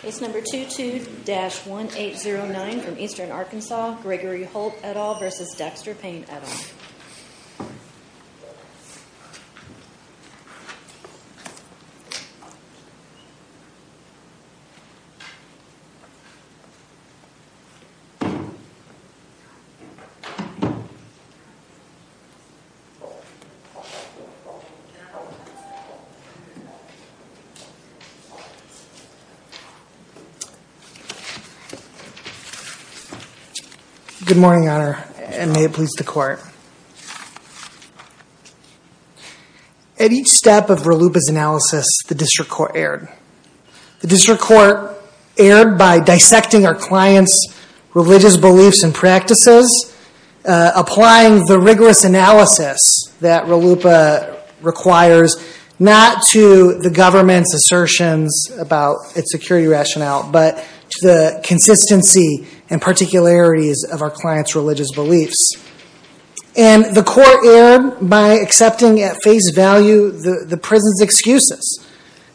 Case number 22-1809 from Eastern Arkansas, Gregory Holt et al. v. Dexter Payne et al. Good morning, Your Honor, and may it please the Court. At each step of RLUIPA's analysis, the District Court erred. The District Court erred by dissecting our clients' religious beliefs and practices, applying the rigorous analysis that RLUIPA requires, not to the government's assertions about its security rationale, but to the consistency and particularities of our clients' religious beliefs. And the Court erred by accepting at face value the prison's excuses.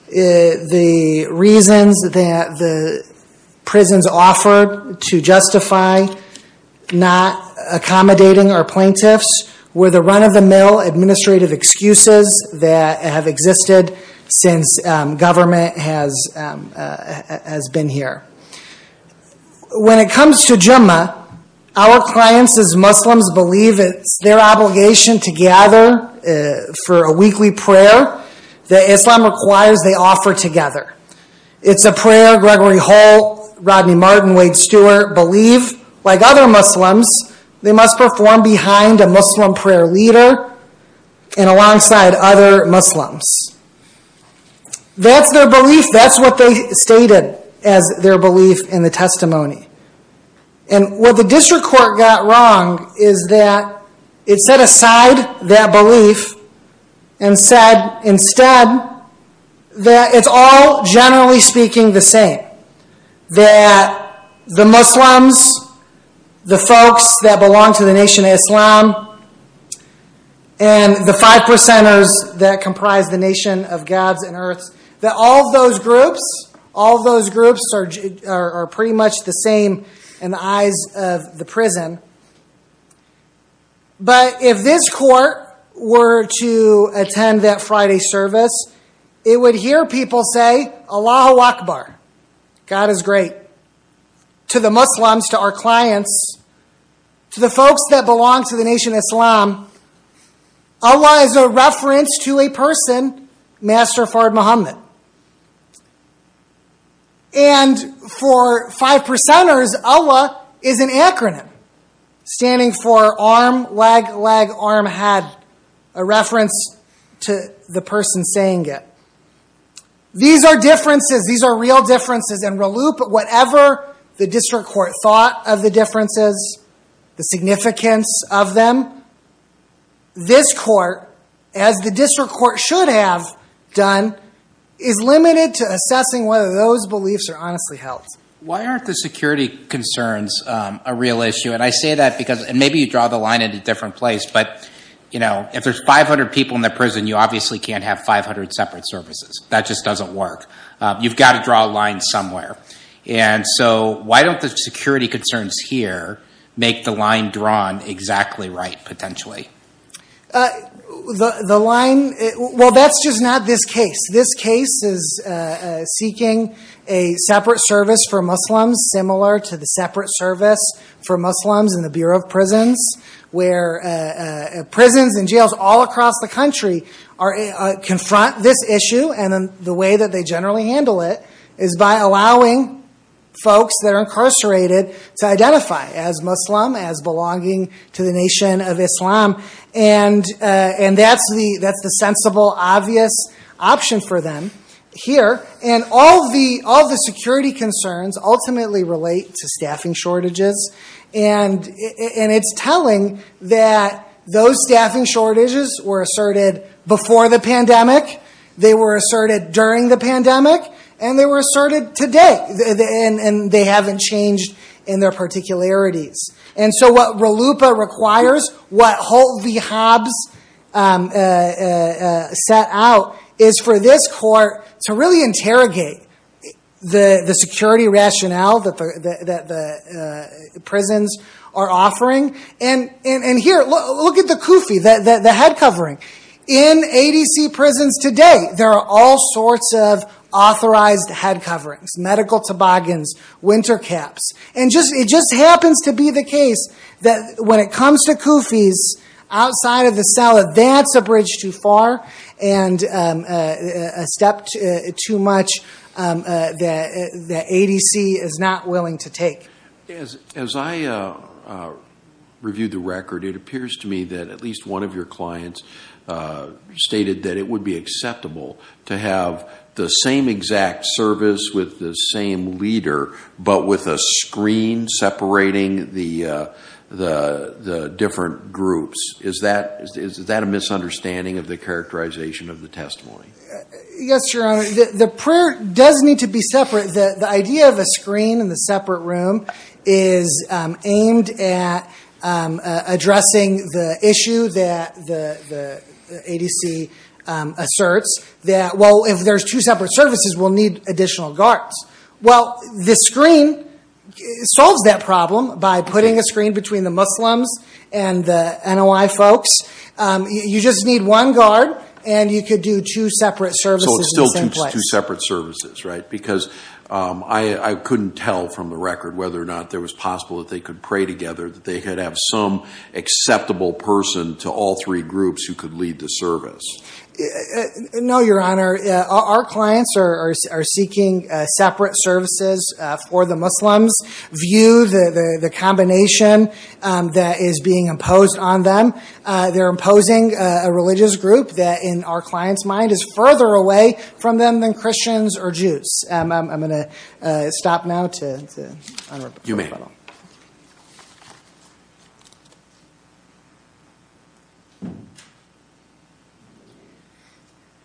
The reasons that the prisons offered to justify not accommodating our plaintiffs were the run-of-the-mill administrative excuses that have existed since government has been here. When it comes to Jummah, our clients' Muslims believe it's their obligation to gather for a weekly prayer that Islam requires they offer together. It's a prayer Gregory Holt, Rodney Martin, Wade Stewart believe, like other Muslims, they must perform behind a Muslim prayer leader and alongside other Muslims. That's their belief. That's what they stated as their belief in the testimony. And what the District Court got wrong is that it set aside that belief and said instead that it's all, generally speaking, the same. That the Muslims, the folks that belong to the Nation of Islam, and the five percenters that comprise the Nation of Gods and Earths, that all those groups are pretty much the same in the eyes of the prison. But if this Court were to attend that Friday service, it would hear people say, God is great, to the Muslims, to our clients, to the folks that belong to the Nation of Islam, Allah is a reference to a person, Master Fahd Muhammad. And for five percenters, Allah is an acronym, standing for arm, leg, leg, arm, head, a reference to the person saying it. These are differences. These are real differences. And whatever the District Court thought of the differences, the significance of them, this Court, as the District Court should have done, is limited to assessing whether those beliefs are honestly held. Why aren't the security concerns a real issue? And I say that because, and maybe you draw the line at a different place, but if there's 500 people in the prison, you obviously can't have 500 separate services. That just doesn't work. You've got to draw a line somewhere. And so why don't the security concerns here make the line drawn exactly right, potentially? The line, well, that's just not this case. This case is seeking a separate service for Muslims, similar to the separate service for Muslims in the Bureau of Prisons, where prisons and jails all across the country confront this issue. And the way that they generally handle it is by allowing folks that are incarcerated to identify as Muslim, as belonging to the nation of Islam. And that's the sensible, obvious option for them here. And all the security concerns ultimately relate to staffing shortages. And it's telling that those staffing shortages were asserted before the pandemic, they were asserted during the pandemic, and they were asserted today. And they haven't changed in their particularities. And so what RLUIPA requires, what Holt v. Hobbs set out, is for this court to really interrogate the security rationale that the prisons are offering. And here, look at the KUFI, the head covering. In ADC prisons today, there are all sorts of authorized head coverings, medical toboggans, winter caps. And it just happens to be the case that when it comes to KUFIs outside of the cell, that's a bridge too far and a step too much that ADC is not willing to take. As I reviewed the record, it appears to me that at least one of your clients stated that it would be acceptable to have the same exact service with the same leader, but with a screen separating the different groups. Is that a misunderstanding of the characterization of the testimony? Yes, Your Honor. The prayer does need to be separate. The idea of a screen in the separate room is aimed at addressing the issue that the ADC asserts, that, well, if there's two separate services, we'll need additional guards. Well, the screen solves that problem by putting a screen between the Muslims and the NOI folks. You just need one guard, and you could do two separate services in the same place. So it's still two separate services, right? Because I couldn't tell from the record whether or not it was possible that they could pray together, that they could have some acceptable person to all three groups who could lead the service. No, Your Honor. Our clients are seeking separate services for the Muslims' view, the combination that is being imposed on them. They're imposing a religious group that, in our client's mind, is further away from them than Christians or Jews. I'm going to stop now to honor my fellow. You may.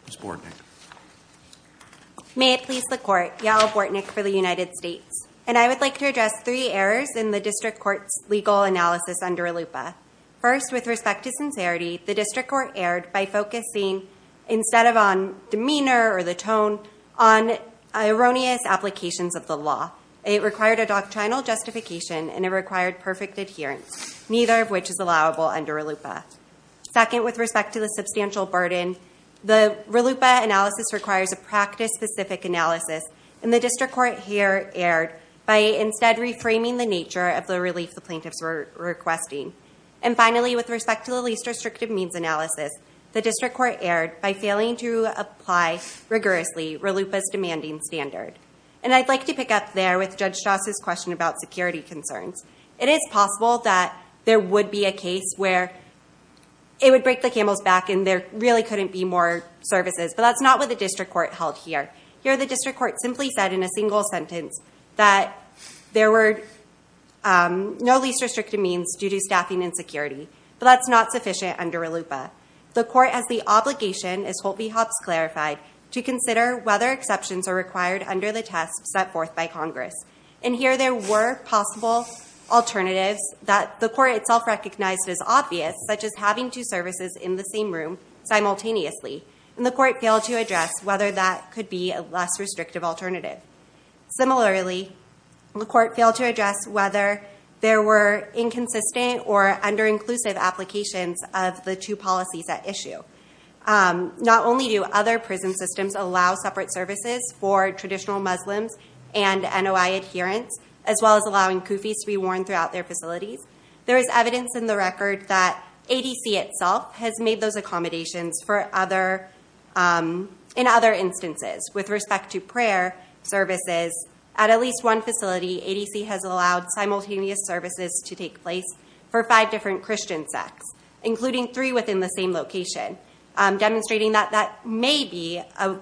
Ms. Bortnick. May it please the Court, Yael Bortnick for the United States. And I would like to address three errors in the district court's legal analysis under ALUPA. First, with respect to sincerity, the district court erred by focusing, instead of on demeanor or the tone, on erroneous applications of the law. It required a doctrinal justification, and it required perfect adherence, neither of which is allowable under ALUPA. Second, with respect to the substantial burden, the ALUPA analysis requires a practice-specific analysis, and the district court here erred by instead reframing the nature of the relief the plaintiffs were requesting. And finally, with respect to the least restrictive means analysis, the district court erred by failing to apply rigorously ALUPA's demanding standard. And I'd like to pick up there with Judge Stross's question about security concerns. It is possible that there would be a case where it would break the camel's back and there really couldn't be more services, but that's not what the district court held here. Here, the district court simply said in a single sentence that there were no least restrictive means due to staffing and security, but that's not sufficient under ALUPA. The court has the obligation, as Holtby-Hobbs clarified, to consider whether exceptions are required under the test set forth by Congress. And here there were possible alternatives that the court itself recognized as obvious, such as having two services in the same room simultaneously, and the court failed to address whether that could be a less restrictive alternative. Similarly, the court failed to address whether there were inconsistent or under-inclusive applications of the two policies at issue. Not only do other prison systems allow separate services for traditional Muslims and NOI adherents, as well as allowing kufis to be worn throughout their facilities, there is evidence in the record that ADC itself has made those accommodations in other instances. With respect to prayer services, at at least one facility, ADC has allowed simultaneous services to take place for five different Christian sects, including three within the same location, demonstrating that that may be a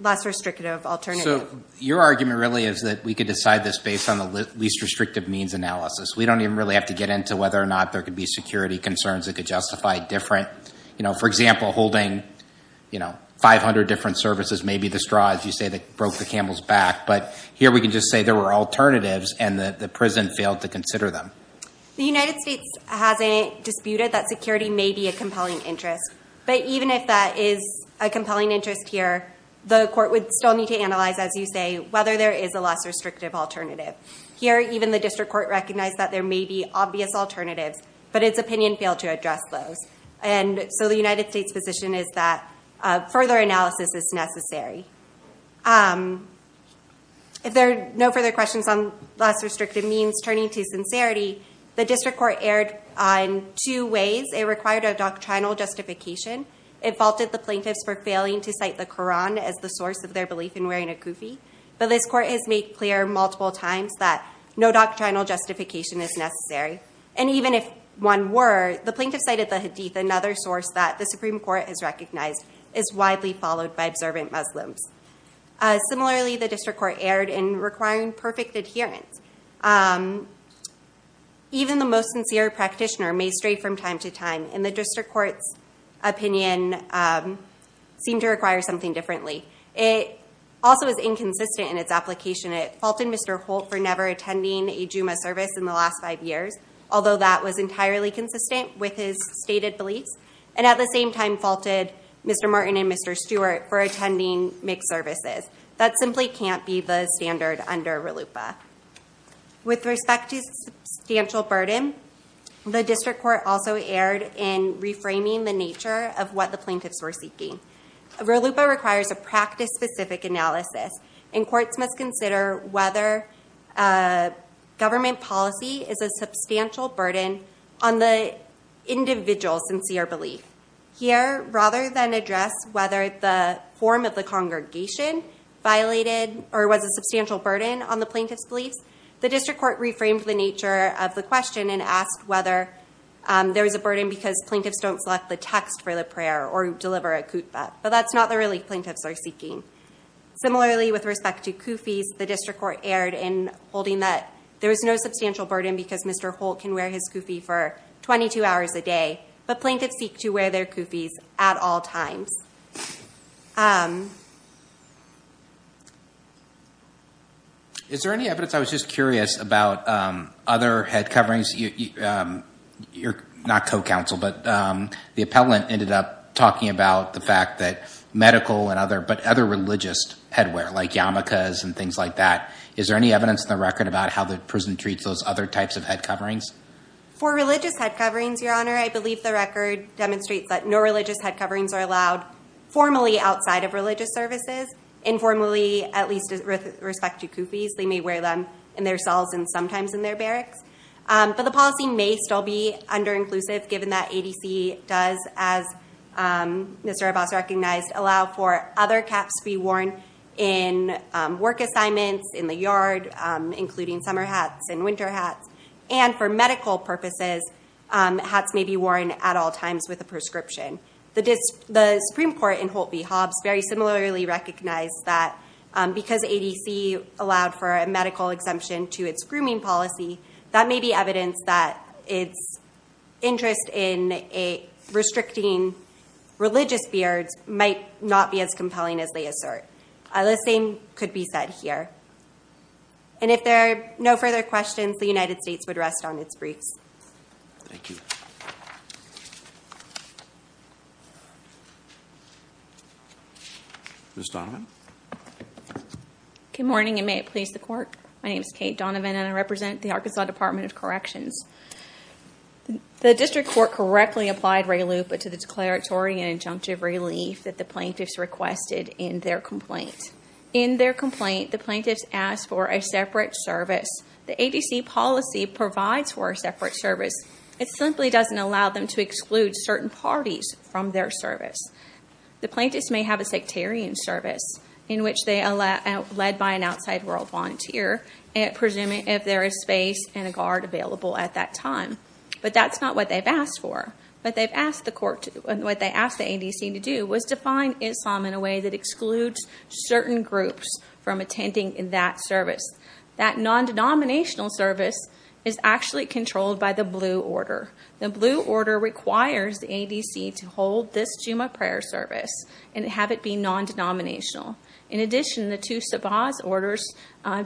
less restrictive alternative. So your argument really is that we could decide this based on the least restrictive means analysis. We don't even really have to get into whether or not there could be security concerns that could justify different, you know, for example, holding, you know, 500 different services, maybe the straw, as you say, that broke the camel's back. But here we can just say there were alternatives and that the prison failed to consider them. The United States hasn't disputed that security may be a compelling interest. But even if that is a compelling interest here, the court would still need to analyze, as you say, whether there is a less restrictive alternative. Here, even the district court recognized that there may be obvious alternatives, but its opinion failed to address those. And so the United States position is that further analysis is necessary. If there are no further questions on less restrictive means, turning to sincerity, the district court erred on two ways. It required a doctrinal justification. It faulted the plaintiffs for failing to cite the Koran as the source of their belief in wearing a kufi. But this court has made clear multiple times that no doctrinal justification is necessary. And even if one were, the plaintiffs cited the Hadith, another source that the Supreme Court has recognized, is widely followed by observant Muslims. Similarly, the district court erred in requiring perfect adherence. Even the most sincere practitioner may stray from time to time, and the district court's opinion seemed to require something differently. It also is inconsistent in its application. It faulted Mr. Holt for never attending a Juma service in the last five years, although that was entirely consistent with his stated beliefs, and at the same time faulted Mr. Martin and Mr. Stewart for attending mixed services. That simply can't be the standard under RLUIPA. With respect to substantial burden, the district court also erred in reframing the nature of what the plaintiffs were seeking. RLUIPA requires a practice-specific analysis, and courts must consider whether government policy is a substantial burden on the individual's sincere belief. Here, rather than address whether the form of the congregation violated or was a substantial burden on the plaintiff's beliefs, the district court reframed the nature of the question and asked whether there was a burden because plaintiffs don't select the text for the prayer or deliver a khutbah. But that's not the relief plaintiffs are seeking. Similarly, with respect to kufis, the district court erred in holding that there is no substantial burden because Mr. Holt can wear his kufi for 22 hours a day, but plaintiffs seek to wear their kufis at all times. Is there any evidence, I was just curious, about other head coverings? You're not co-counsel, but the appellant ended up talking about the fact that other religious headwear, like yarmulkes and things like that. Is there any evidence in the record about how the prison treats those other types of head coverings? For religious head coverings, Your Honor, I believe the record demonstrates that no religious head coverings are allowed formally outside of religious services. Informally, at least with respect to kufis, they may wear them in their cells and sometimes in their barracks. But the policy may still be under-inclusive, given that ADC does, as Mr. Arbas recognized, allow for other caps to be worn in work assignments, in the yard, including summer hats and winter hats. And for medical purposes, hats may be worn at all times with a prescription. The Supreme Court in Holt v. Hobbs very similarly recognized that because ADC allowed for a medical exemption to its grooming policy, that may be evidence that its interest in restricting religious beards might not be as compelling as they assert. The same could be said here. And if there are no further questions, the United States would rest on its briefs. Thank you. Ms. Donovan? Good morning, and may it please the Court. My name is Kate Donovan, and I represent the Arkansas Department of Corrections. The district court correctly applied RELU, but to the declaratory and injunctive relief that the plaintiffs requested in their complaint. In their complaint, the plaintiffs asked for a separate service. The ADC policy provides for a separate service. It simply doesn't allow them to exclude certain parties from their service. The plaintiffs may have a sectarian service, in which they are led by an outside world volunteer, presuming if there is space and a guard available at that time. But that's not what they've asked for. What they've asked the ADC to do was to find Islam in a way that excludes certain groups from attending that service. That non-denominational service is actually controlled by the blue order. The blue order requires the ADC to hold this Jumu'ah prayer service and have it be non-denominational. In addition, the two Sabah's orders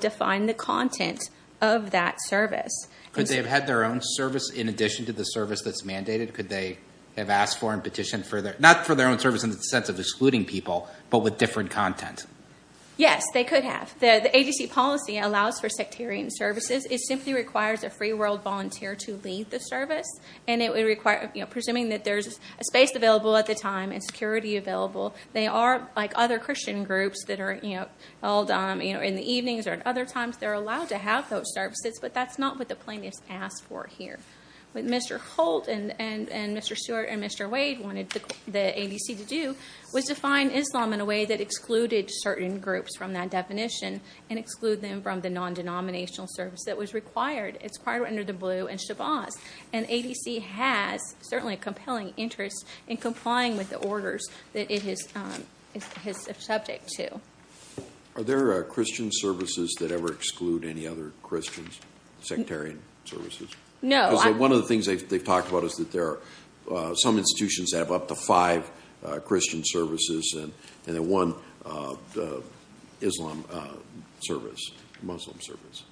define the content of that service. Could they have had their own service in addition to the service that's mandated? Could they have asked for and petitioned for their own service in the sense of excluding people, but with different content? Yes, they could have. The ADC policy allows for sectarian services. It simply requires a free world volunteer to lead the service, presuming that there's a space available at the time and security available. They are, like other Christian groups that are held in the evenings or at other times, they're allowed to have those services, but that's not what the plaintiffs asked for here. What Mr. Holt and Mr. Stewart and Mr. Wade wanted the ADC to do was to find Islam in a way that excluded certain groups from that definition and exclude them from the non-denominational service that was required. It's required under the blue and Sabah's. And ADC has certainly a compelling interest in complying with the orders that it is subject to. Are there Christian services that ever exclude any other Christian sectarian services? No. Because one of the things they've talked about is that there are some institutions that have up to five Christian services and one Islam service, Muslim service.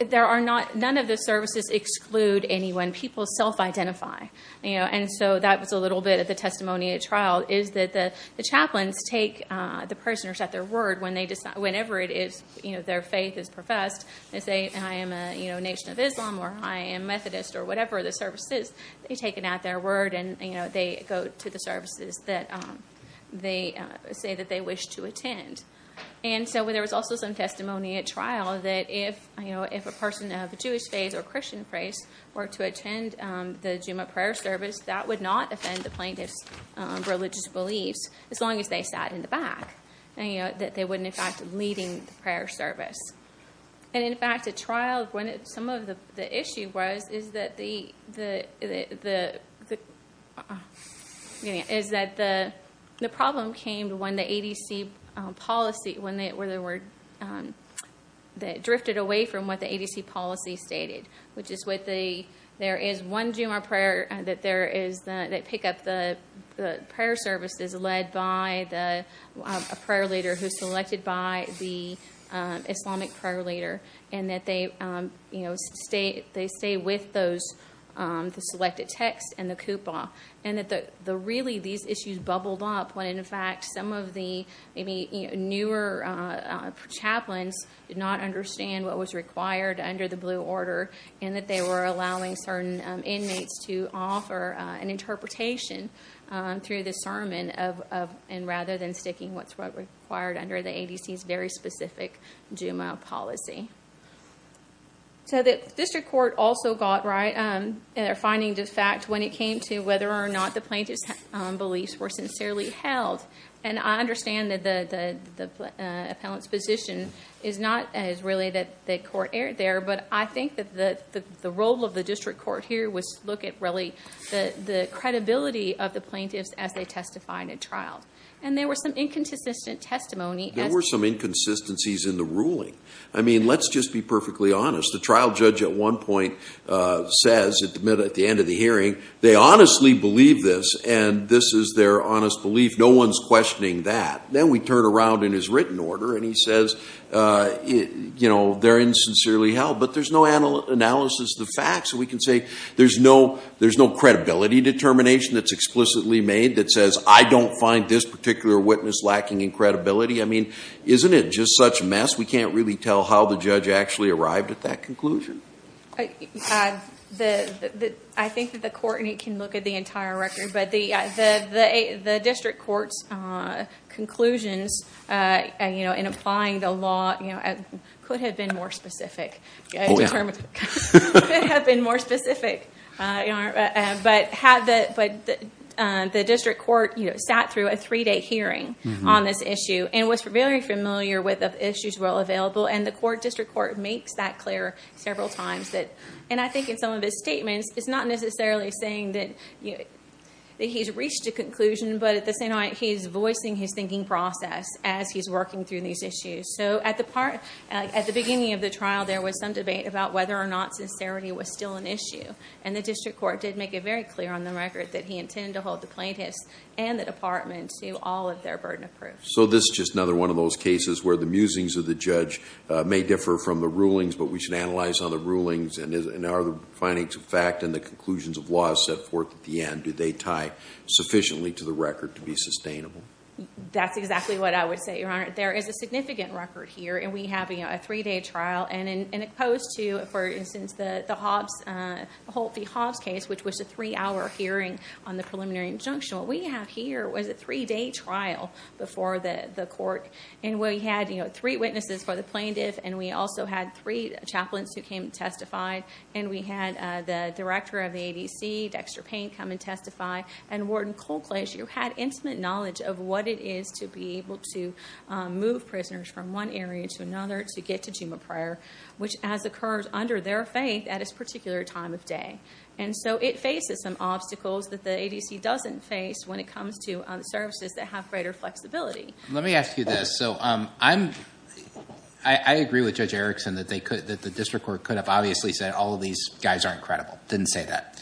None of the services exclude anyone. People self-identify. And so that was a little bit of the testimony at trial, is that the chaplains take the prisoners at their word whenever their faith is professed. They say, I am a nation of Islam or I am Methodist or whatever the service is. They take it at their word and they go to the services that they say that they wish to attend. And so there was also some testimony at trial that if a person of Jewish faith or Christian faith were to attend the Jumu'ah prayer service, that would not offend the plaintiff's religious beliefs as long as they sat in the back, that they wouldn't in fact be leaving the prayer service. And in fact, at trial, some of the issue was that the problem came when the ADC policy, when they drifted away from what the ADC policy stated, which is there is one Jumu'ah prayer that pick up the prayer services led by a prayer leader who is selected by the Islamic prayer leader and that they stay with the selected text and the kupah. And that really these issues bubbled up when in fact some of the newer chaplains did not understand what was required under the blue order and that they were allowing certain inmates to offer an interpretation through the sermon rather than sticking with what was required under the ADC's very specific Jumu'ah policy. So the district court also got right in finding the fact when it came to whether or not the plaintiff's beliefs were sincerely held. And I understand that the appellant's position is not as really that the court erred there, but I think that the role of the district court here was to look at really the credibility of the plaintiffs as they testified and trialed. And there were some inconsistent testimony. There were some inconsistencies in the ruling. I mean, let's just be perfectly honest. The trial judge at one point says at the end of the hearing, they honestly believe this and this is their honest belief. No one's questioning that. Then we turn around in his written order and he says, you know, they're insincerely held. But there's no analysis of the facts. So we can say there's no credibility determination that's explicitly made that says, I don't find this particular witness lacking in credibility. I mean, isn't it just such a mess? We can't really tell how the judge actually arrived at that conclusion. I think that the court can look at the entire record, but the district court's conclusions in applying the law could have been more specific. Oh, yeah. Could have been more specific. But the district court sat through a three-day hearing on this issue and was very familiar with the issues well available. And the district court makes that clear several times. And I think in some of his statements, it's not necessarily saying that he's reached a conclusion, but at the same time he's voicing his thinking process as he's working through these issues. So at the beginning of the trial, there was some debate about whether or not sincerity was still an issue. And the district court did make it very clear on the record that he intended to hold the plaintiffs and the department to all of their burden of proof. So this is just another one of those cases where the musings of the judge may differ from the rulings, but we should analyze on the rulings and are the findings of fact and the conclusions of law set forth at the end, do they tie sufficiently to the record to be sustainable? That's exactly what I would say, Your Honor. There is a significant record here, and we have a three-day trial. And opposed to, for instance, the Holt v. Hobbs case, which was a three-hour hearing on the preliminary injunction, what we have here was a three-day trial before the court. And we had three witnesses for the plaintiff, and we also had three chaplains who came and testified. And we had the director of the ADC, Dexter Payne, come and testify. And Warden Colclage, who had intimate knowledge of what it is to be able to move prisoners from one area to another to get to Juma Prayer, which has occurred under their faith at this particular time of day. And so it faces some obstacles that the ADC doesn't face when it comes to services that have greater flexibility. Let me ask you this. So I agree with Judge Erickson that the district court could have obviously said, all of these guys aren't credible. Didn't say that.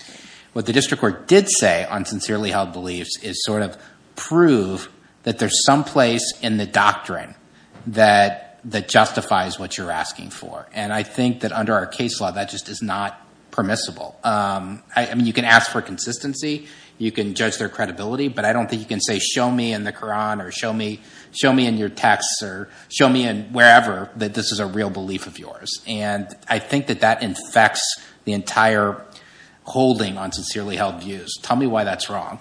What the district court did say on sincerely held beliefs is sort of prove that there's some place in the doctrine that justifies what you're asking for. And I think that under our case law, that just is not permissible. I mean, you can ask for consistency. You can judge their credibility. But I don't think you can say, show me in the Koran or show me in your texts And I think that that infects the entire holding on sincerely held views. Tell me why that's wrong.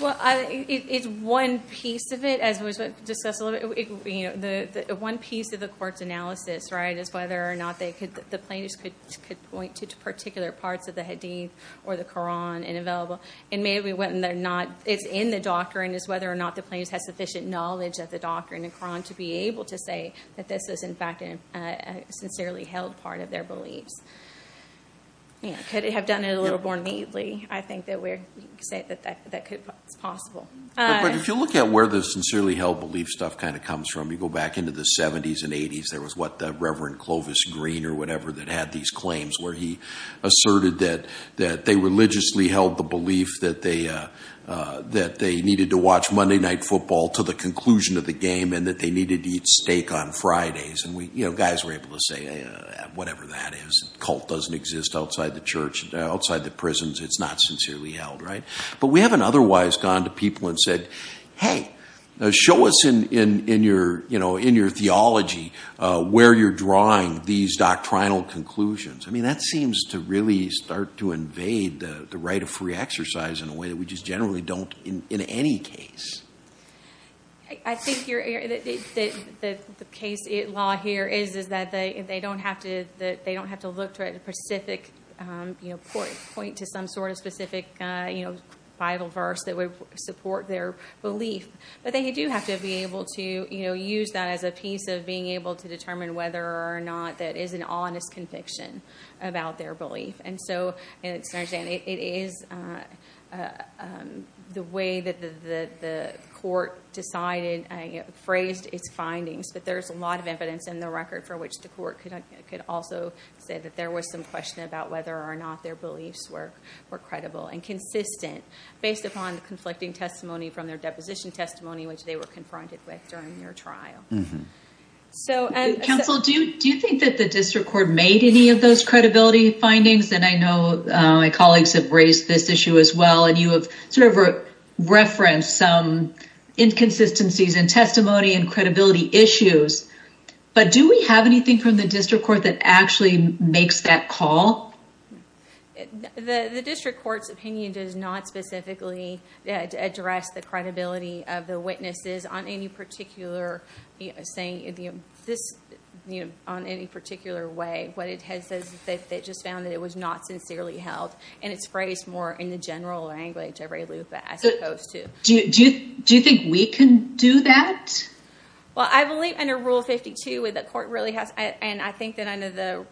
Well, it's one piece of it, as was discussed a little bit. The one piece of the court's analysis is whether or not the plaintiffs could point to particular parts of the Hadith or the Koran and available. And maybe when they're not, it's in the doctrine, is whether or not the plaintiffs have sufficient knowledge of the doctrine and Koran to be able to say that this is, in fact, a sincerely held part of their beliefs. Could have done it a little more neatly. I think that we're saying that that's possible. But if you look at where the sincerely held belief stuff kind of comes from, you go back into the 70s and 80s. There was what the Reverend Clovis Green or whatever that had these claims where he asserted that they religiously held the belief that they needed to watch Monday night football to the conclusion of the game and that they needed to eat steak on Fridays. And guys were able to say whatever that is. Cult doesn't exist outside the prisons. It's not sincerely held, right? But we haven't otherwise gone to people and said, hey, show us in your theology where you're drawing these doctrinal conclusions. I mean, that seems to really start to invade the right of free exercise in a way that we just generally don't in any case. I think the case law here is that they don't have to look to a specific point to some sort of specific Bible verse that would support their belief. But they do have to be able to use that as a piece of being able to determine whether or not that is an honest conviction about their belief. And so it is the way that the court decided, phrased its findings. But there's a lot of evidence in the record for which the court could also say that there was some question about whether or not their beliefs were credible and consistent based upon the conflicting testimony from their deposition testimony, which they were confronted with during their trial. Counsel, do you think that the district court made any of those credibility findings? And I know my colleagues have raised this issue as well, and you have sort of referenced some inconsistencies in testimony and credibility issues. But do we have anything from the district court that actually makes that call? The district court's opinion does not specifically address the credibility of the witnesses on any particular way. What it has is that they just found that it was not sincerely held, and it's phrased more in the general language of Ray Lupa as opposed to. Do you think we can do that? Well, I believe under Rule 52 the court really has, and I think that under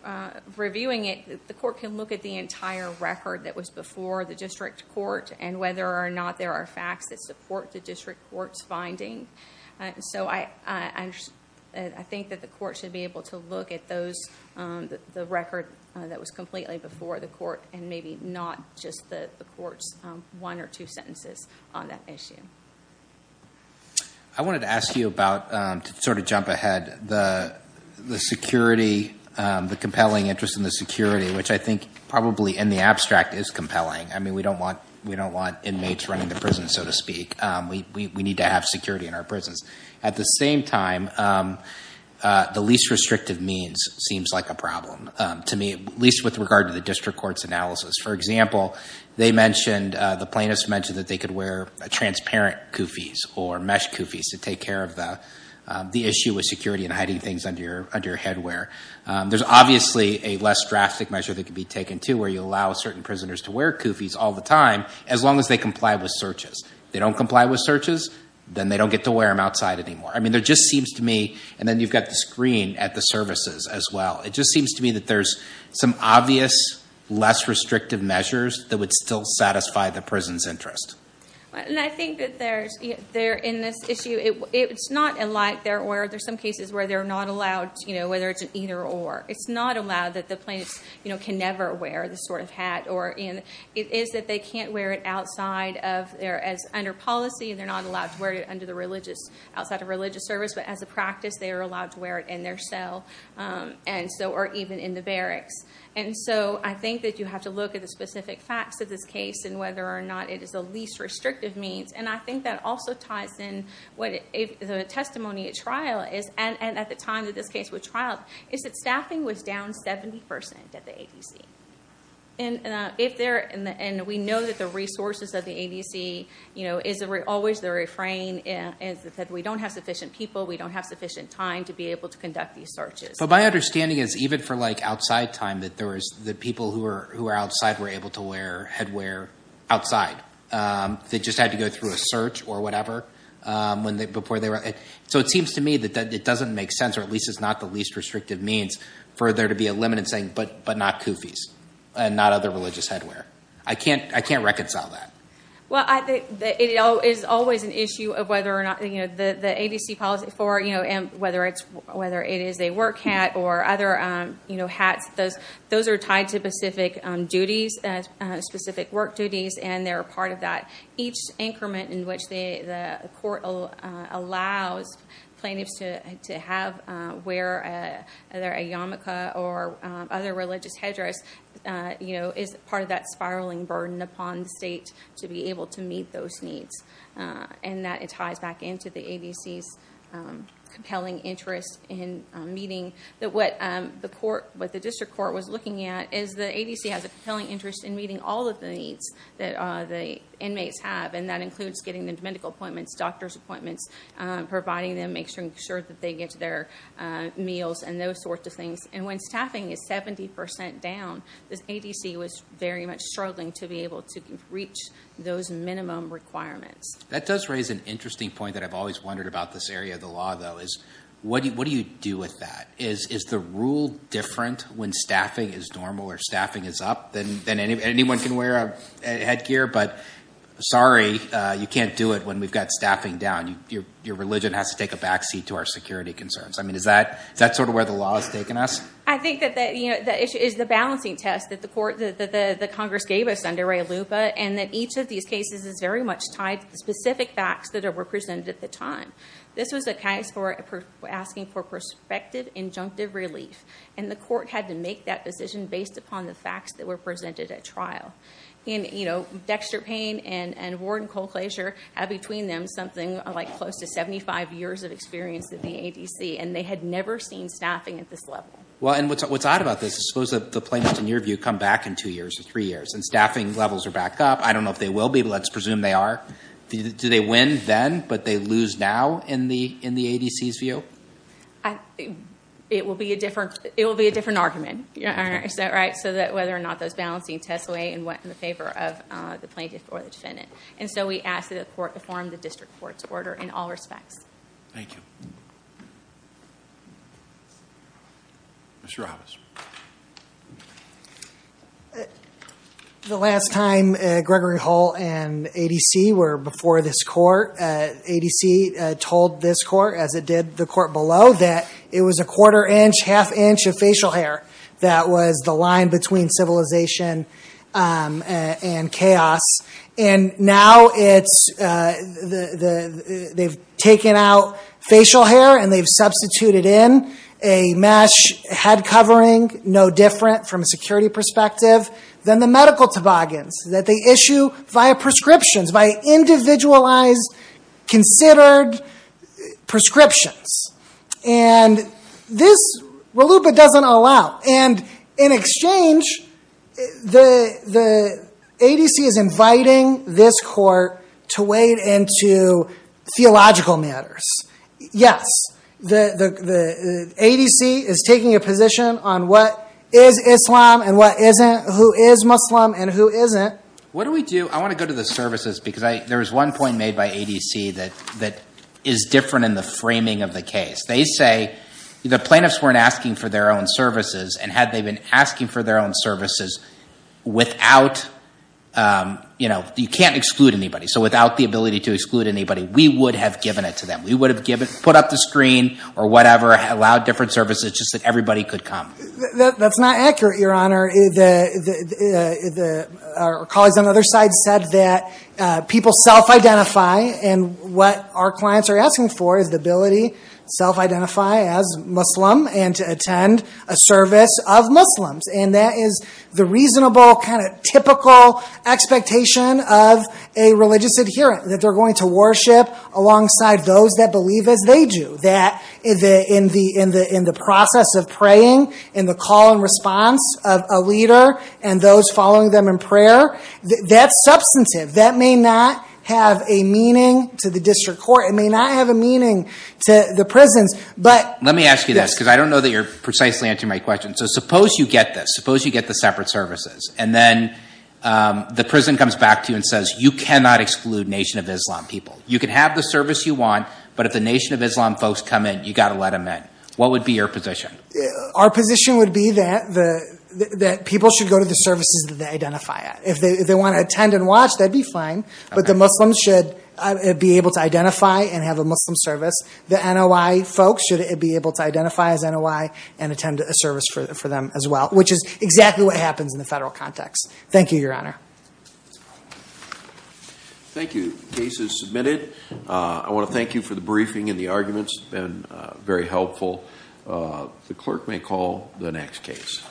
reviewing it, the court can look at the entire record that was before the district court and whether or not there are facts that support the district court's finding. So I think that the court should be able to look at the record that was completely before the court and maybe not just the court's one or two sentences on that issue. I wanted to ask you about, to sort of jump ahead, the security, the compelling interest in the security, which I think probably in the abstract is compelling. I mean, we don't want inmates running the prison, so to speak. We need to have security in our prisons. At the same time, the least restrictive means seems like a problem to me, at least with regard to the district court's analysis. For example, the plaintiffs mentioned that they could wear transparent koofies or mesh koofies to take care of the issue with security and hiding things under your headwear. There's obviously a less drastic measure that could be taken, too, where you allow certain prisoners to wear koofies all the time as long as they comply with searches. If they don't comply with searches, then they don't get to wear them outside anymore. I mean, there just seems to me, and then you've got the screen at the services as well, it just seems to me that there's some obvious less restrictive measures that would still satisfy the prison's interest. And I think that in this issue, it's not like they're aware. There are some cases where they're not allowed, whether it's an either or. It's not allowed that the plaintiffs can never wear this sort of hat. It is that they can't wear it outside, as under policy, and they're not allowed to wear it outside of religious service. But as a practice, they are allowed to wear it in their cell or even in the barracks. And so I think that you have to look at the specific facts of this case and whether or not it is the least restrictive means. And I think that also ties in what the testimony at trial is, and at the time that this case was trialed, is that staffing was down 70% at the ADC. And we know that the resources at the ADC is always the refrain that we don't have sufficient people, we don't have sufficient time to be able to conduct these searches. But my understanding is, even for like outside time, that the people who were outside were able to wear headwear outside. They just had to go through a search or whatever before they were – so it seems to me that it doesn't make sense, or at least it's not the least restrictive means, for there to be a limit in saying, but not koofies, and not other religious headwear. I can't reconcile that. Well, I think that it is always an issue of whether or not – the ADC policy for whether it is a work hat or other hats, those are tied to specific duties, specific work duties, and they're a part of that. Each increment in which the court allows plaintiffs to have, wear either a yarmulke or other religious headdress, is part of that spiraling burden upon the state to be able to meet those needs. And that ties back into the ADC's compelling interest in meeting – that what the court, what the district court was looking at, is the ADC has a compelling interest in meeting all of the needs that the inmates have, and that includes getting them to medical appointments, doctor's appointments, providing them, making sure that they get their meals, and those sorts of things. And when staffing is 70% down, this ADC was very much struggling to be able to reach those minimum requirements. That does raise an interesting point that I've always wondered about this area of the law, though, is what do you do with that? Is the rule different when staffing is normal or staffing is up and anyone can wear a headgear, but sorry, you can't do it when we've got staffing down. Your religion has to take a backseat to our security concerns. I mean, is that sort of where the law has taken us? I think that the issue is the balancing test that the Congress gave us under Ray Lupa, and that each of these cases is very much tied to the specific facts that were presented at the time. This was a case for asking for prospective injunctive relief, and the court had to make that decision based upon the facts that were presented at trial. And, you know, Dexter Payne and Warren Colclasure had between them something like close to 75 years of experience at the ADC, and they had never seen staffing at this level. Well, and what's odd about this is suppose that the plaintiffs, in your view, come back in two years or three years, and staffing levels are back up. I don't know if they will be, but let's presume they are. Do they win then, but they lose now in the ADC's view? It will be a different argument. Is that right? So that whether or not those balancing tests weigh and went in the favor of the plaintiff or the defendant. And so we ask that the court perform the district court's order in all respects. Thank you. Mr. Roberts. The last time Gregory Hull and ADC were before this court, ADC told this court, as it did the court below, that it was a quarter inch, half inch of facial hair that was the line between civilization and chaos. And now they've taken out facial hair, and they've substituted in a mesh head covering, no different from a security perspective, than the medical toboggans that they issue via prescriptions, by individualized, considered prescriptions. And this, RLUIPA doesn't allow. And in exchange, the ADC is inviting this court to wade into theological matters. Yes, the ADC is taking a position on what is Islam and what isn't, who is Muslim and who isn't. What do we do? I want to go to the services, because there was one point made by ADC that is different in the framing of the case. They say the plaintiffs weren't asking for their own services, and had they been asking for their own services without, you know, you can't exclude anybody. So without the ability to exclude anybody, we would have given it to them. We would have put up the screen or whatever, allowed different services, just that everybody could come. That's not accurate, Your Honor. Our colleagues on the other side said that people self-identify, and what our clients are asking for is the ability to self-identify as Muslim and to attend a service of Muslims. And that is the reasonable, kind of typical expectation of a religious adherent, that they're going to worship alongside those that believe as they do. That in the process of praying, in the call and response of a leader and those following them in prayer, that's substantive. That may not have a meaning to the district court. It may not have a meaning to the prisons. Let me ask you this, because I don't know that you're precisely answering my question. So suppose you get this. Suppose you get the separate services, and then the prison comes back to you and says you cannot exclude Nation of Islam people. You can have the service you want, but if the Nation of Islam folks come in, you've got to let them in. What would be your position? Our position would be that people should go to the services that they identify at. If they want to attend and watch, that would be fine, but the Muslims should be able to identify and have a Muslim service. The NOI folks should be able to identify as NOI and attend a service for them as well, which is exactly what happens in the federal context. Thank you, Your Honor. Thank you. The case is submitted. I want to thank you for the briefing and the arguments. It's been very helpful. The clerk may call the next case.